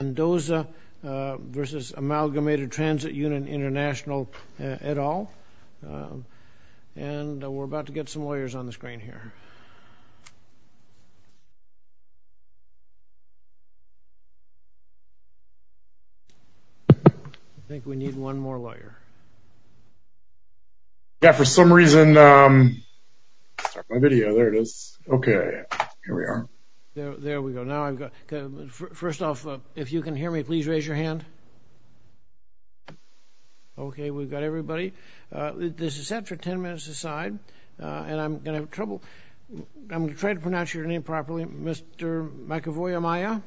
International, et al. And we're about to get some lawyers on the screen here. I think we need one more lawyer. Yeah, for some reason, my video, there it is. Okay, here we are. There we go. Now I've got, first off, if you can hear me, please raise your hand. Okay, we've got everybody. This is set for 10 minutes aside. And I'm going to have trouble. I'm going to try to pronounce your name properly. Mr. McAvoy-Amaya,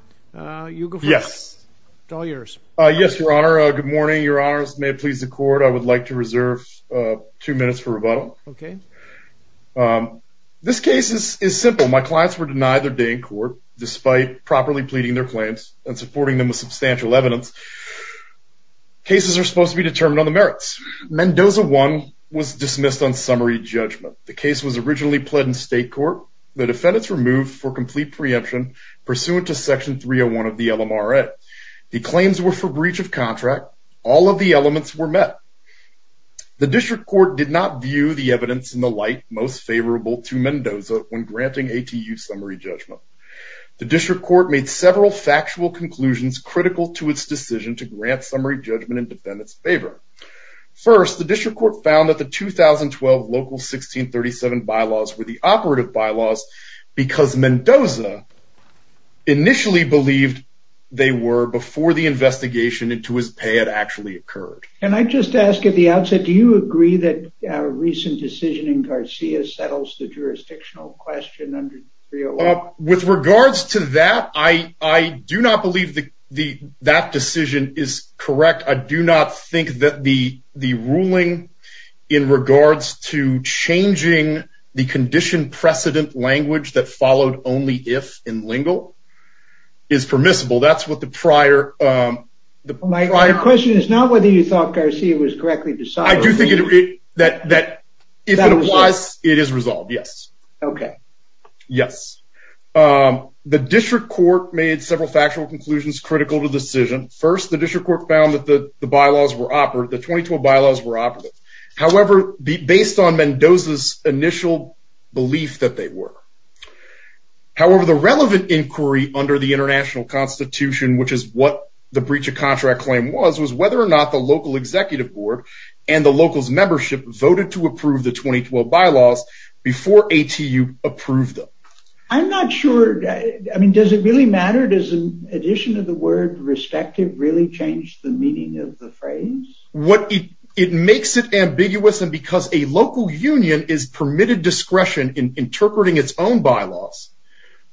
you go first. Yes. It's all yours. Yes, Your Honor. Good morning, Your Honors. May it please the court, I would like to reserve two minutes for rebuttal. Okay. This case is simple. My clients were denied their day in court, despite properly pleading their claims and supporting them with substantial evidence. Cases are supposed to be determined on the merits. Mendoza 1 was dismissed on summary judgment. The case was originally pled in state court. The defendants were moved for complete preemption pursuant to Section 301 of the LMRA. The claims were for breach of contract. All of the elements were met. The district court did not view the evidence in the light most favorable to Mendoza when granting ATU summary judgment. The district court made several factual conclusions critical to its decision to grant summary judgment in defendants favor. First, the district court found that the 2012 local 1637 bylaws were the operative bylaws because Mendoza initially believed they were before the investigation into his pay had actually occurred. And I just ask at the outset, do you agree that a recent decision in Garcia settles the jurisdictional question under 301? With regards to that, I do not believe that decision is correct. I do not think that the ruling in regards to changing the condition precedent language that followed only if in lingual is permissible. That's what the prior... My question is not whether you thought Garcia was correctly decided. I do think that if it applies, it is resolved. Yes. Okay. Yes. The district court made several factual conclusions critical to the decision. First, the district court found that the bylaws were operative, the 2012 bylaws were operative. However, based on Mendoza's initial belief that they were. However, the relevant inquiry under the International Constitution, which is what the breach of claim was, was whether or not the local executive board and the locals membership voted to approve the 2012 bylaws before ATU approved them. I'm not sure. I mean, does it really matter? Does an addition of the word respective really changed the meaning of the phrase? What it makes it ambiguous and because a local union is permitted discretion in interpreting its own bylaws.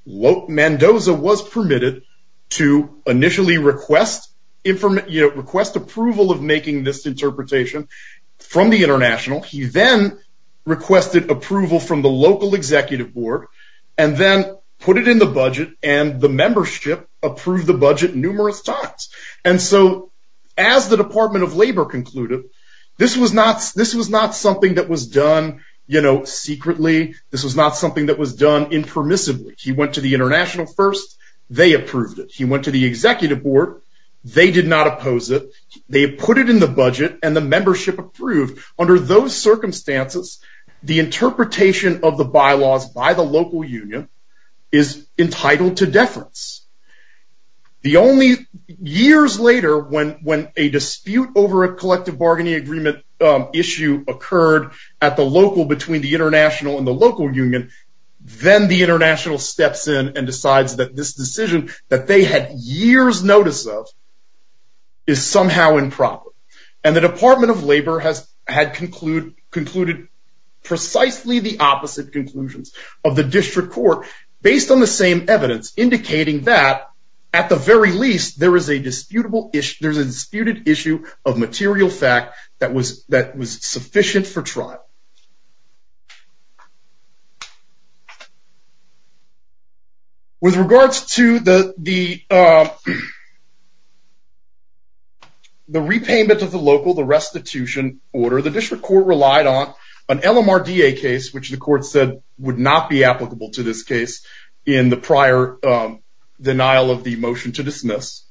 Mendoza was permitted to initially request approval of making this interpretation from the International. He then requested approval from the local executive board and then put it in the budget and the membership approved the budget numerous times. And so as the Department of Labor concluded, this was not something that was done, you know, secretly. This was not something that was done impermissibly. He went to the local union, they approved it. He went to the executive board, they did not oppose it. They put it in the budget and the membership approved. Under those circumstances, the interpretation of the bylaws by the local union is entitled to deference. The only years later when when a dispute over a collective bargaining agreement issue occurred at the local between the international and the local union, then the international steps in and decides that this decision that they had years notice of is somehow improper. And the Department of Labor has had concluded concluded precisely the opposite conclusions of the district court based on the same evidence indicating that at the very least there is a disputed issue of material fact that was that was sufficient for trial. With regards to the repayment of the local, the restitution order, the district court relied on an LMRDA case, which the court said would not be applicable to this case in the prior denial of the motion to dismiss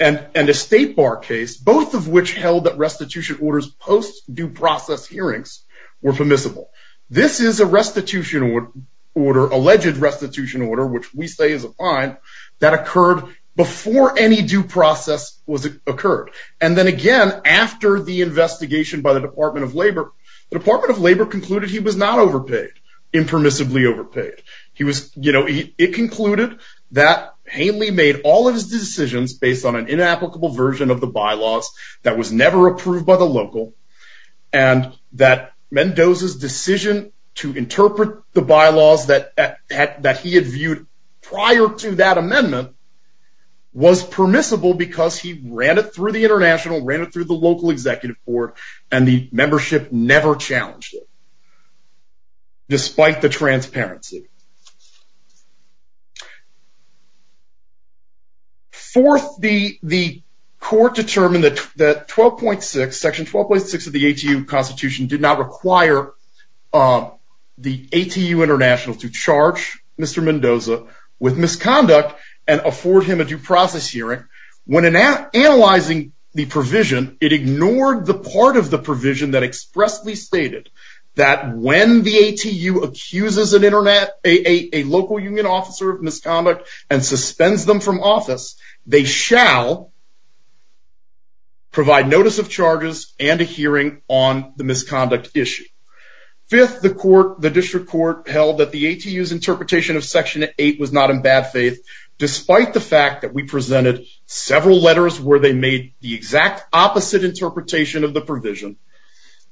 and an estate bar case, both of which held that restitution orders post due process hearings were permissible. This is a restitution order, alleged restitution order, which we say is a fine that occurred before any due process was occurred. And then again, after the that Haley made all of his decisions based on an inapplicable version of the bylaws that was never approved by the local and that Mendoza's decision to interpret the bylaws that that he had viewed prior to that amendment was permissible because he ran it through the international ran it through the Fourth, the court determined that 12.6, section 12.6 of the ATU constitution did not require the ATU international to charge Mr. Mendoza with misconduct and afford him a due process hearing. When analyzing the provision, it ignored the part of the provision that expressly stated that when the and suspends them from office, they shall provide notice of charges and a hearing on the misconduct issue. Fifth, the court, the district court held that the ATU's interpretation of section eight was not in bad faith, despite the fact that we presented several letters where they made the exact opposite interpretation of the provision,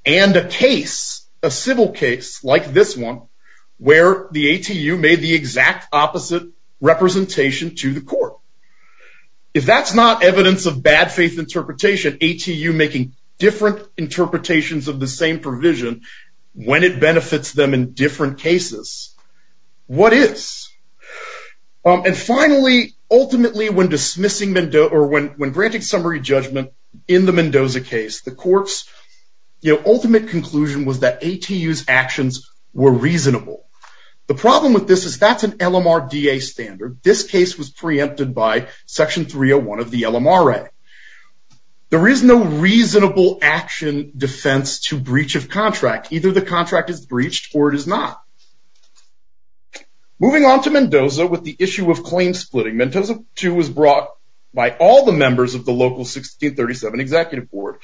and a case, a civil case like this one, where the ATU made the exact opposite representation to the court. If that's not evidence of bad faith interpretation, ATU making different interpretations of the same provision, when it benefits them in different cases, what is? And finally, ultimately, when dismissing Mendoza or when when granting summary judgment in the Mendoza case, the court's, you know, ultimate conclusion was that ATU's actions were reasonable. The problem with this is that's an LMRDA standard. This case was preempted by section 301 of the LMRA. There is no claim splitting. Mendoza two was brought by all the members of the local 1637 executive board.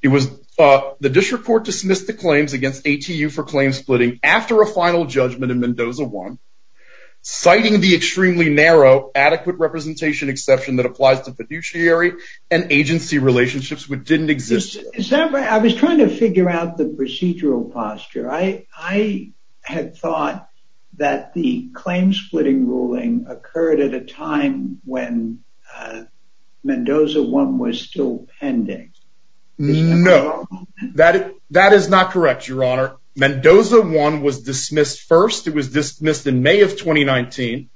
It was the district court dismissed the claims against ATU for claim splitting after a final judgment in Mendoza one, citing the extremely narrow adequate representation exception that applies to fiduciary and agency ruling occurred at a time when Mendoza one was still pending. No, that that is not correct, Your Honor. Mendoza one was dismissed. First, it was dismissed in May of 2019.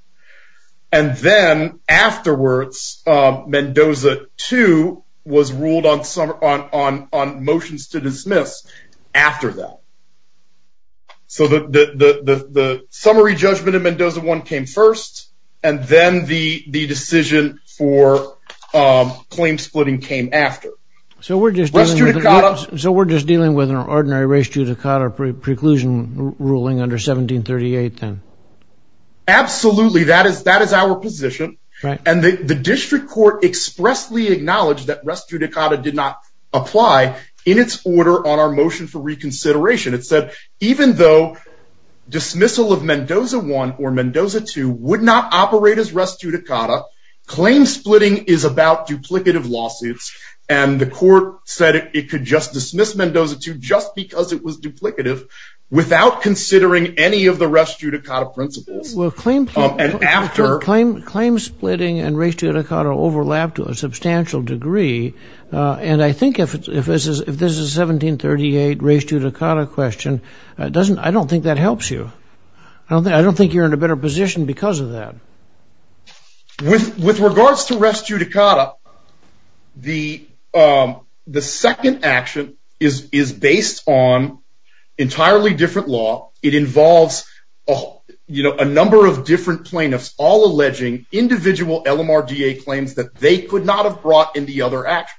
And then afterwards, Mendoza two was ruled on some on on on summary judgment and Mendoza one came first. And then the the decision for claim splitting came after. So we're just so we're just dealing with an ordinary race to the coder preclusion ruling under 1738. Then, absolutely, that is that is our position. And the district court expressly acknowledged that rescue Dakota did not apply in its order on our motion for reconsideration. It said, even though dismissal of Mendoza one or Mendoza two would not operate as rescue Dakota claim splitting is about duplicative lawsuits. And the court said it could just dismiss Mendoza two just because it was duplicative, without considering any of the rescue Dakota principles were 1738 race to Dakota question. It doesn't I don't think that helps you. I don't think I don't think you're in a better position because of that. With with regards to rescue Dakota, the the second action is is based on entirely different law, it involves a, you know, a number of different plaintiffs all alleging individual lmrda claims that they could not have brought in the other act.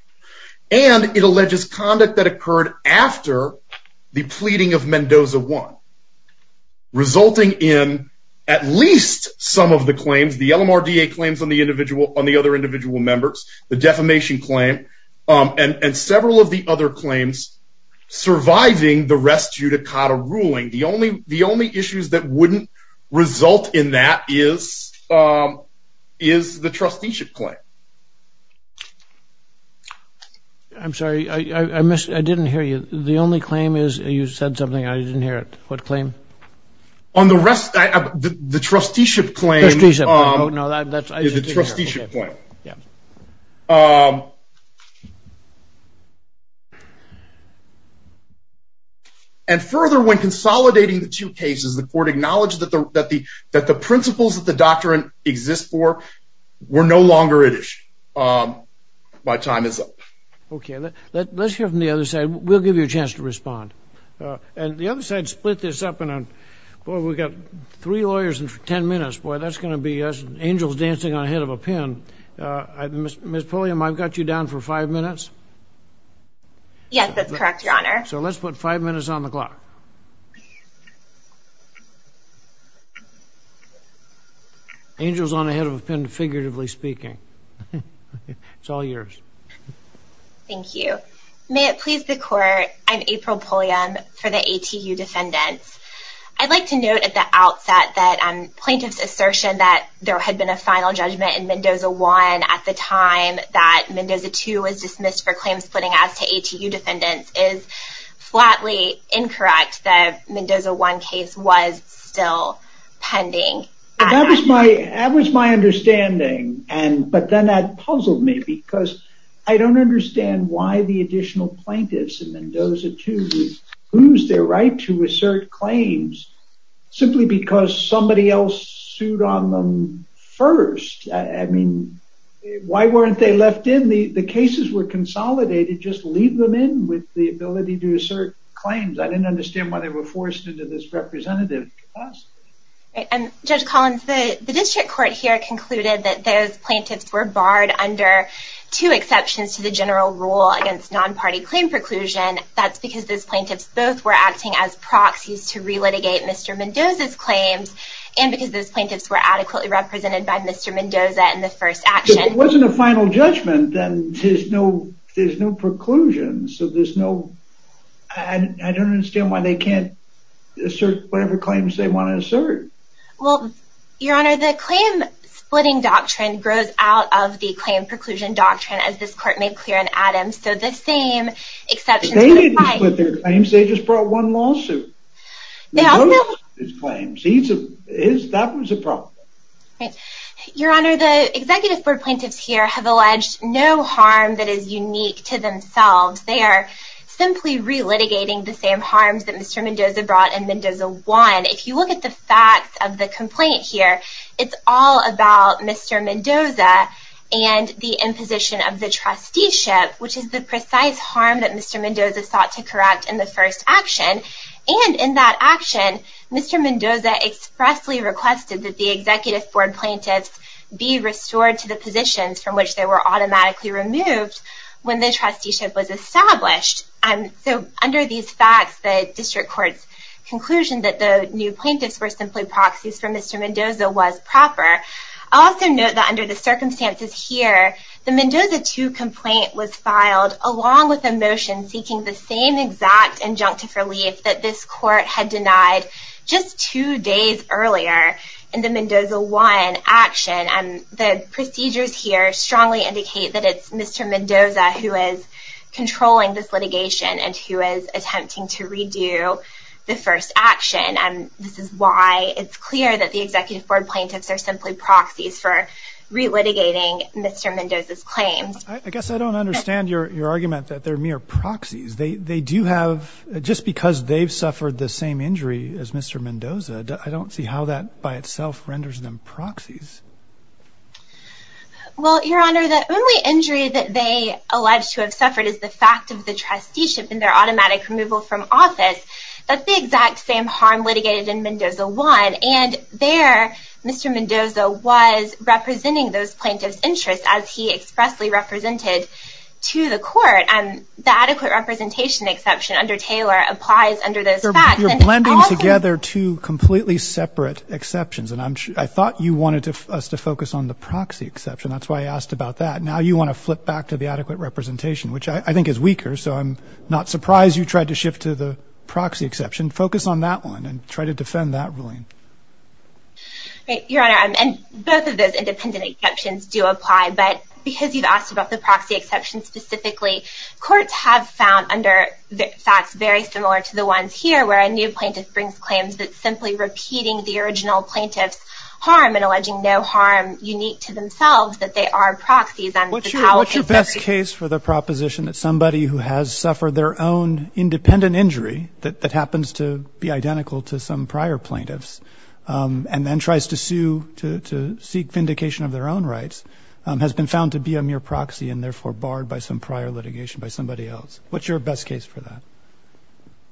And it alleges conduct that occurred after the pleading of Mendoza one, resulting in at least some of the claims the lmrda claims on the individual on the other individual members, the defamation claim, and several of the other claims, surviving the rescue Dakota ruling the only the only issues that wouldn't result in that is, is the trusteeship claim. I'm sorry, I missed I didn't hear you. The only claim is you said something I didn't hear it. What claim? On the rest of the trusteeship claim is a trusteeship claim. Yeah. Um, and further when consolidating the two cases, the court acknowledged that the that the that the principles of the doctrine exist for we're no longer at issue. My time is up. Okay, let's hear from the other side. We'll give you a chance to respond. And the other side split this up. And boy, we've got three lawyers in 10 minutes. Boy, that's going to be us angels dancing on ahead of a pin. Miss Pulliam, I've got you down for five minutes. Yes, that's correct, Your Honor. So let's put five minutes on the clock. Angels on ahead of a pin figuratively speaking. It's all yours. Thank you. May it please the court. I'm April Pulliam for the ATU defendants. I'd like to note at the outset that plaintiff's assertion that there had been a final judgment in Mendoza one at the time that Mendoza two was dismissed for claims splitting as to ATU defendants is flatly incorrect that Mendoza one case was still pending. That was my, that was my understanding. And but then that puzzled me because I don't understand why the additional plaintiffs and Mendoza two lose their right to assert claims, simply because somebody else sued on them first. I mean, why weren't they left in the the cases were consolidated just leave them in with the ability to assert claims. I didn't understand why they were forced into this representative capacity. And Judge Collins, the district court here concluded that those plaintiffs were barred under two exceptions to the general rule against non-party claim preclusion. That's because those plaintiffs both were acting as proxies to relitigate Mr. Mendoza's claims and because those plaintiffs were adequately represented by Mr. Mendoza in the first action. It wasn't a final judgment. And there's no, there's no preclusion. So there's no, I don't understand why they can't assert whatever claims they want to assert. Well, Your Honor, the claim splitting doctrine grows out of the claim preclusion doctrine as this court made clear in Adams. So the same exception. They didn't split their claims, they just brought one lawsuit. His claims, that was a problem. Right. Your Honor, the executive board plaintiffs here have alleged no harm that is unique to themselves. They are simply relitigating the same harms that Mr. Mendoza brought in Mendoza one. If you look at the facts of the complaint here, it's all about Mr. Mendoza and the imposition of the trusteeship, which is the precise harm that Mr. Mendoza sought to correct in the first action. And in that action, Mr. Mendoza expressly requested that the executive board plaintiffs be restored to the positions from which they were automatically removed when the trusteeship was established. So under these facts, the district court's conclusion that the new plaintiffs were simply proxies for Mr. Mendoza was proper. Also note that under the circumstances here, the Mendoza two complaint was filed along with a motion seeking the same exact injunctive relief that this court had denied just two days earlier in the Mendoza one action. And the procedures here strongly indicate that it's Mr. Mendoza who is controlling this litigation and who is attempting to redo the first action. And this is why it's clear that the executive board plaintiffs are simply proxies for relitigating Mr. Mendoza's claims. I guess I don't understand your argument that they're mere proxies. They do have just because they've suffered the same injury as Mr. Mendoza. I don't see how that by itself renders them proxies. Well, Your Honor, the only injury that they allege to have suffered is the fact of the trusteeship and their automatic removal from office. That's the exact same harm litigated in Mendoza one. And there, Mr. Mendoza was representing those plaintiffs' interests as he expressly represented to the court. The adequate representation exception under Taylor applies under those facts. You're blending together two completely separate exceptions. And I thought you wanted us to focus on the proxy exception. That's why I asked about that. Now you want to flip back to the adequate representation, which I think is weaker. So I'm not surprised you tried to shift to the proxy exception. Focus on that one and try to defend that ruling. Your Honor, both of those independent exceptions do apply. But because you've asked about the proxy exception specifically, courts have found under the facts very similar to the ones here, where a new plaintiff brings claims that simply repeating the original plaintiff's harm and alleging no harm unique to themselves, that they are proxies. What's your best case for the proposition that somebody who has suffered their own independent injury, that happens to be identical to some prior plaintiffs and then tries to sue to seek vindication of their own rights, has been found to be a mere proxy and therefore barred by some prior litigation by somebody else? What's your best case for that?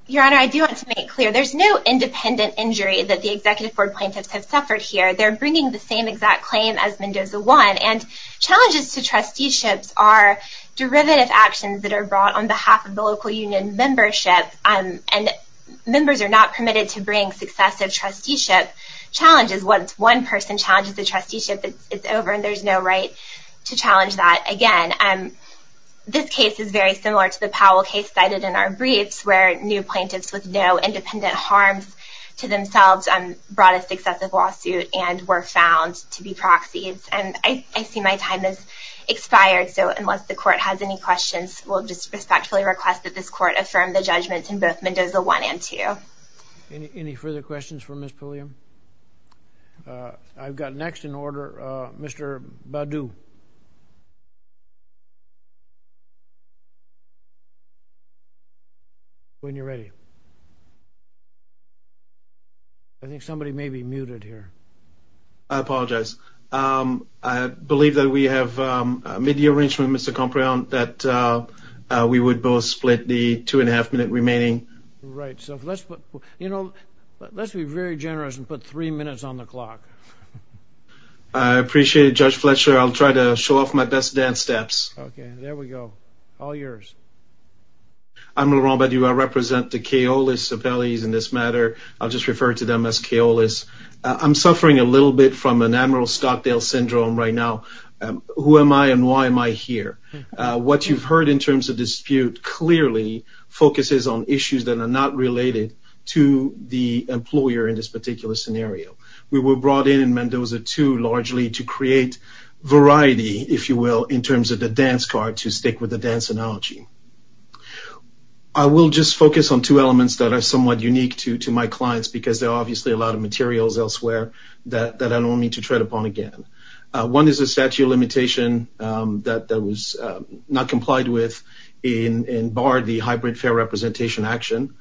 Your Honor, I do want to make it clear. There's no independent injury that the Executive Board plaintiffs have suffered here. They're bringing the same exact claim as Mendoza 1. And challenges to trusteeships are derivative actions that are brought on behalf of the local union membership. And members are not permitted to bring successive trusteeship challenges. Once one person challenges a trusteeship, it's over and there's no right to challenge that. Again, this case is very similar to the Powell case cited in our briefs, where new plaintiffs with no independent harms to themselves brought a successive lawsuit and were found to be proxies. And I see my time has expired, so unless the Court has any questions, we'll just respectfully request that this Court affirm the judgments in both Mendoza 1 and 2. Any further questions for Ms. Pulliam? I've got next in order, Mr. Badu. When you're ready. I think somebody may be muted here. I apologize. I believe that we have made the arrangement, Mr. Compréhende, that we would both split the two and a half minute remaining. Right, so let's be very generous and put three minutes on the clock. I appreciate it, Judge Fletcher. I'll try to show off my best dance steps. Okay, there we go. All yours. I'm Laurent Badu. I represent the Kaolis Appellees in this matter. I'll just refer to them as Kaolis. I'm suffering a little bit from an Admiral Stockdale syndrome right now. Who am I and why am I here? What you've heard in terms of dispute clearly focuses on issues that are not related to the employer in this particular scenario. We were brought in in Mendoza 2 largely to create variety, if you will, in terms of the dance card to stick with the dance analogy. I will just focus on two elements that are somewhat unique to my clients because there are obviously a lot of materials elsewhere that I don't want me to tread upon again. One is a statute of limitation that was not complied with and barred the hybrid fair representation action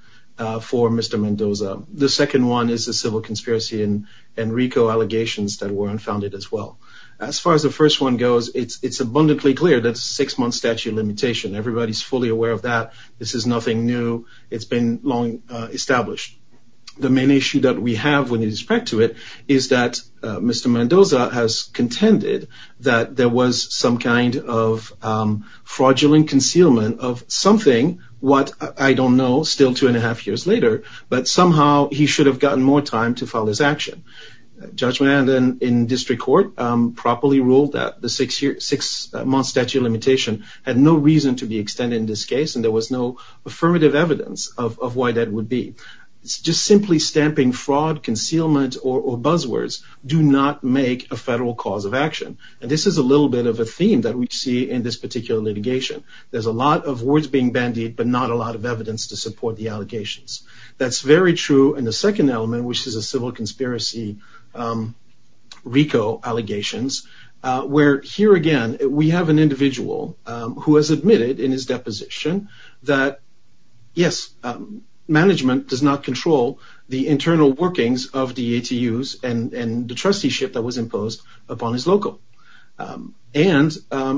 for Mr. Mendoza. The second one is the civil conspiracy and RICO allegations that were unfounded as well. As far as the first one goes, it's abundantly clear that it's a six-month statute of limitation. Everybody's fully aware of that. This is nothing new. It's been long established. The main issue that we have with respect to it is that Mr. Mendoza has contended that there was some kind of fraudulent concealment of something, what I don't know, still two and a half years later, but somehow he should have gotten more time to file his action. Judgment in district court properly ruled that the six-month statute of limitation had no reason to be extended in this case and there was no affirmative evidence of why that would be. Just simply stamping fraud, concealment, or buzzwords do not make a federal cause of action. This is a little bit of a theme that we see in this particular litigation. There's a lot of words being bandied, but not a lot of evidence to support the allegations. That's very true in the second element, which is a civil conspiracy RICO allegations, where here again, we have an individual who has admitted in his deposition that, yes, management does not control the internal workings of the ATUs and the trusteeship that was imposed upon his local. And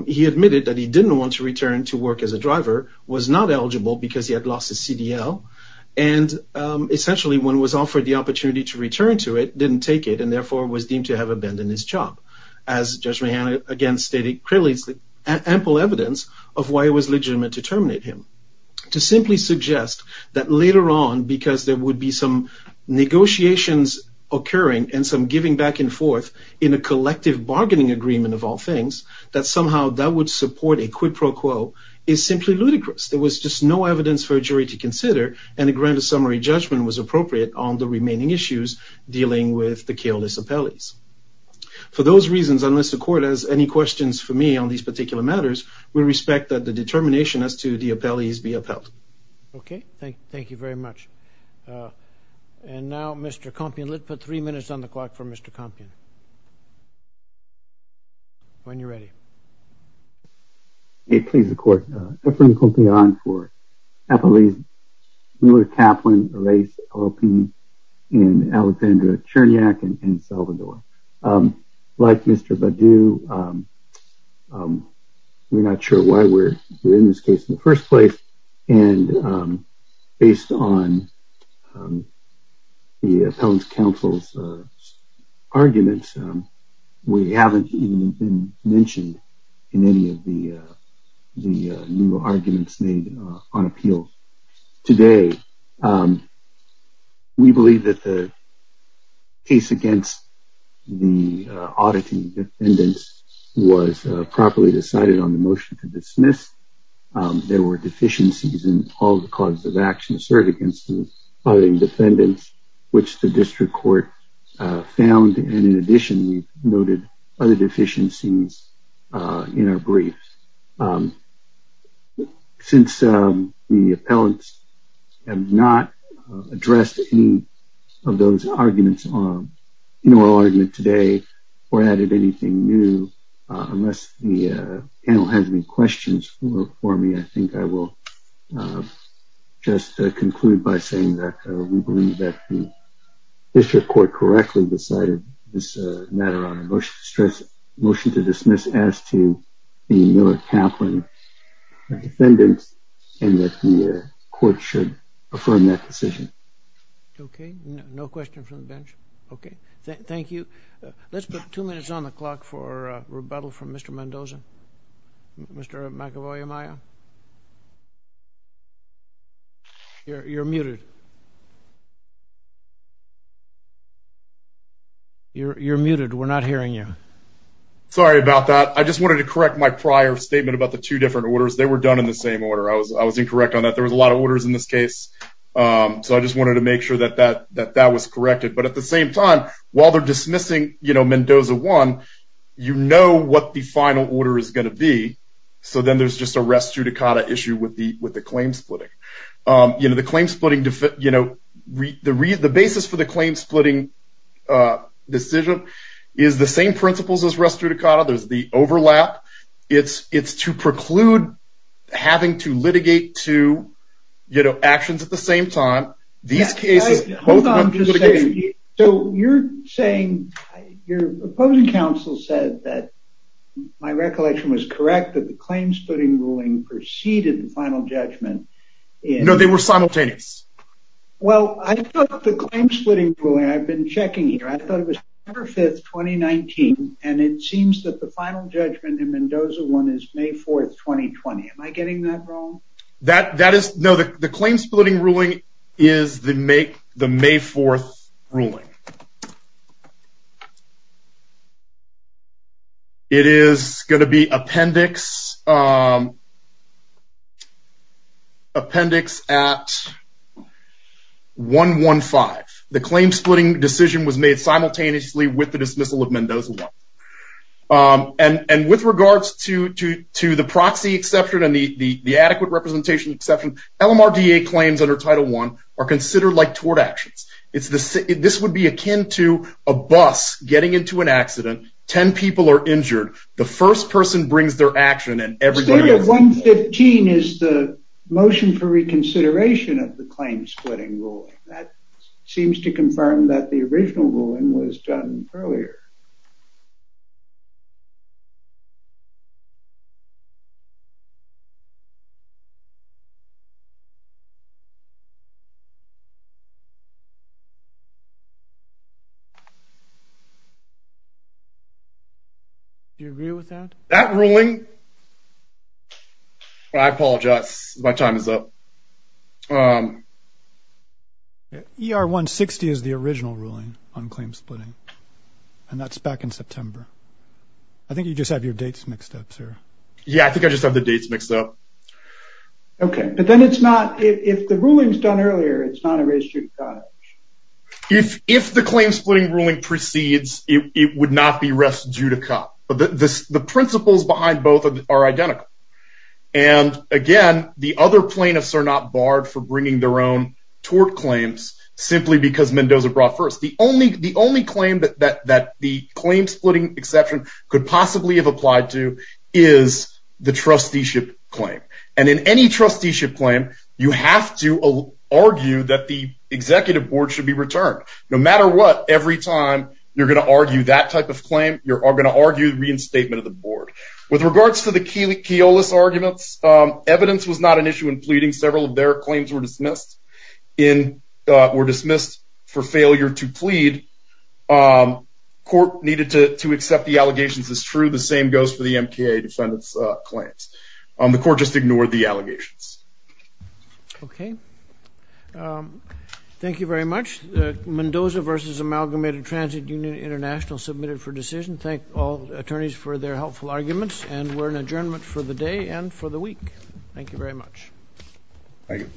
he admitted that he didn't want to return to work as a driver, was not eligible because he had lost his CDL, and essentially when was offered the opportunity to return to it, didn't take it and therefore was deemed to have abandoned his job. As Judge Mahan again stated clearly, ample evidence of why it was legitimate to terminate him. To simply suggest that later on, because there would be some negotiations occurring and some giving back and forth in a collective bargaining agreement of all things, that somehow that would support a quid pro quo is simply ludicrous. There was just no evidence for a jury to consider and a grand summary judgment was appropriate on the remaining issues dealing with the Keolis appellees. For those reasons, unless the court has any questions for me on these particular matters, we respect that the determination as to the appellees be upheld. Okay, thank you very much. And now, Mr. Compion, let's put three minutes on the clock for Mr. Compion. When you're ready. Okay, please, the court. Efren Compion for appellees. Mueller, Kaplan, Reyes, Opie, and Alexandra Chernyak in Salvador. Like Mr. Baddou, we're not sure why we're in this case in the first place. And based on the appellant's counsel's arguments, we haven't even been mentioned in any of the new arguments made on appeal. Today, we believe that the case against the auditing defendants was properly decided on the motion to dismiss. There were deficiencies in all the causes of action asserted against the auditing defendants, which the district court found. And in addition, we noted other deficiencies in our brief. Since the appellants have not addressed any of those arguments in our argument today, or added anything new, unless the panel has any questions for me, I think I will just conclude by saying that we believe that the district court correctly decided this matter on a motion to dismiss as to the Mueller-Kaplan defendants, and that the court should affirm that decision. Okay, no question from the bench. Okay, thank you. Let's put two minutes on the clock for rebuttal from Mr. Mendoza. Mr. McEvoy-Amaya. You're muted. You're muted, we're not hearing you. Sorry about that. I just wanted to correct my prior statement about the two different orders. They were done in the same order. I was incorrect on that. There was a lot of orders in this case. So I just wanted to make sure that that was corrected. But at the same time, while they're dismissing Mendoza 1, you know what the final order is going to be. So then there's just a res judicata issue with the claim splitting. You know, the claim splitting, you know, the basis for the claim splitting decision is the same principles as res judicata. There's the overlap. It's to preclude having to litigate two, you know, actions at the same time. So you're saying your opposing counsel said that my recollection was correct that the claim splitting ruling preceded the final judgment. No, they were simultaneous. Well, I thought the claim splitting ruling, I've been checking here, I thought it was November 5th, 2019. And it seems that the final judgment in Mendoza 1 is May 4th, 2020. Am I getting that wrong? Okay. It is going to be appendix at 115. The claim splitting decision was made simultaneously with the dismissal of Mendoza 1. And with regards to the proxy exception and the adequate representation exception, LMRDA claims under Title 1 are considered like tort actions. This would be akin to a bus getting into an accident. Ten people are injured. The first person brings their action and everybody else... I'm saying that 115 is the motion for reconsideration of the claim splitting ruling. That seems to confirm that the original ruling was done earlier. Do you agree with that? That ruling... I apologize. My time is up. ER 160 is the original ruling on claim splitting. And that's back in September. I think you just have your dates mixed up, sir. Yeah, I think I just have the dates mixed up. Okay. But then it's not... If the ruling is done earlier, it's not a res judicata. If the claim splitting ruling proceeds, it would not be res judicata. But the principles behind both are identical. And again, the other plaintiffs are not barred for bringing their own tort claims simply because Mendoza brought first. The only claim that the claim splitting exception could possibly have applied to is the trusteeship claim. And in any trusteeship claim, you have to argue that the executive board should be returned. No matter what, every time you're going to argue that type of claim, you're going to argue the reinstatement of the board. With regards to the Keolis arguments, evidence was not an issue in pleading. Several of their claims were dismissed for failure to plead. Court needed to accept the allegations as true. The same goes for the MKA defendant's claims. The court just ignored the allegations. Okay. Thank you very much. Mendoza versus Amalgamated Transit Union International submitted for decision. Thank all attorneys for their helpful arguments. And we're in adjournment for the day and for the week. Thank you very much. Thank you.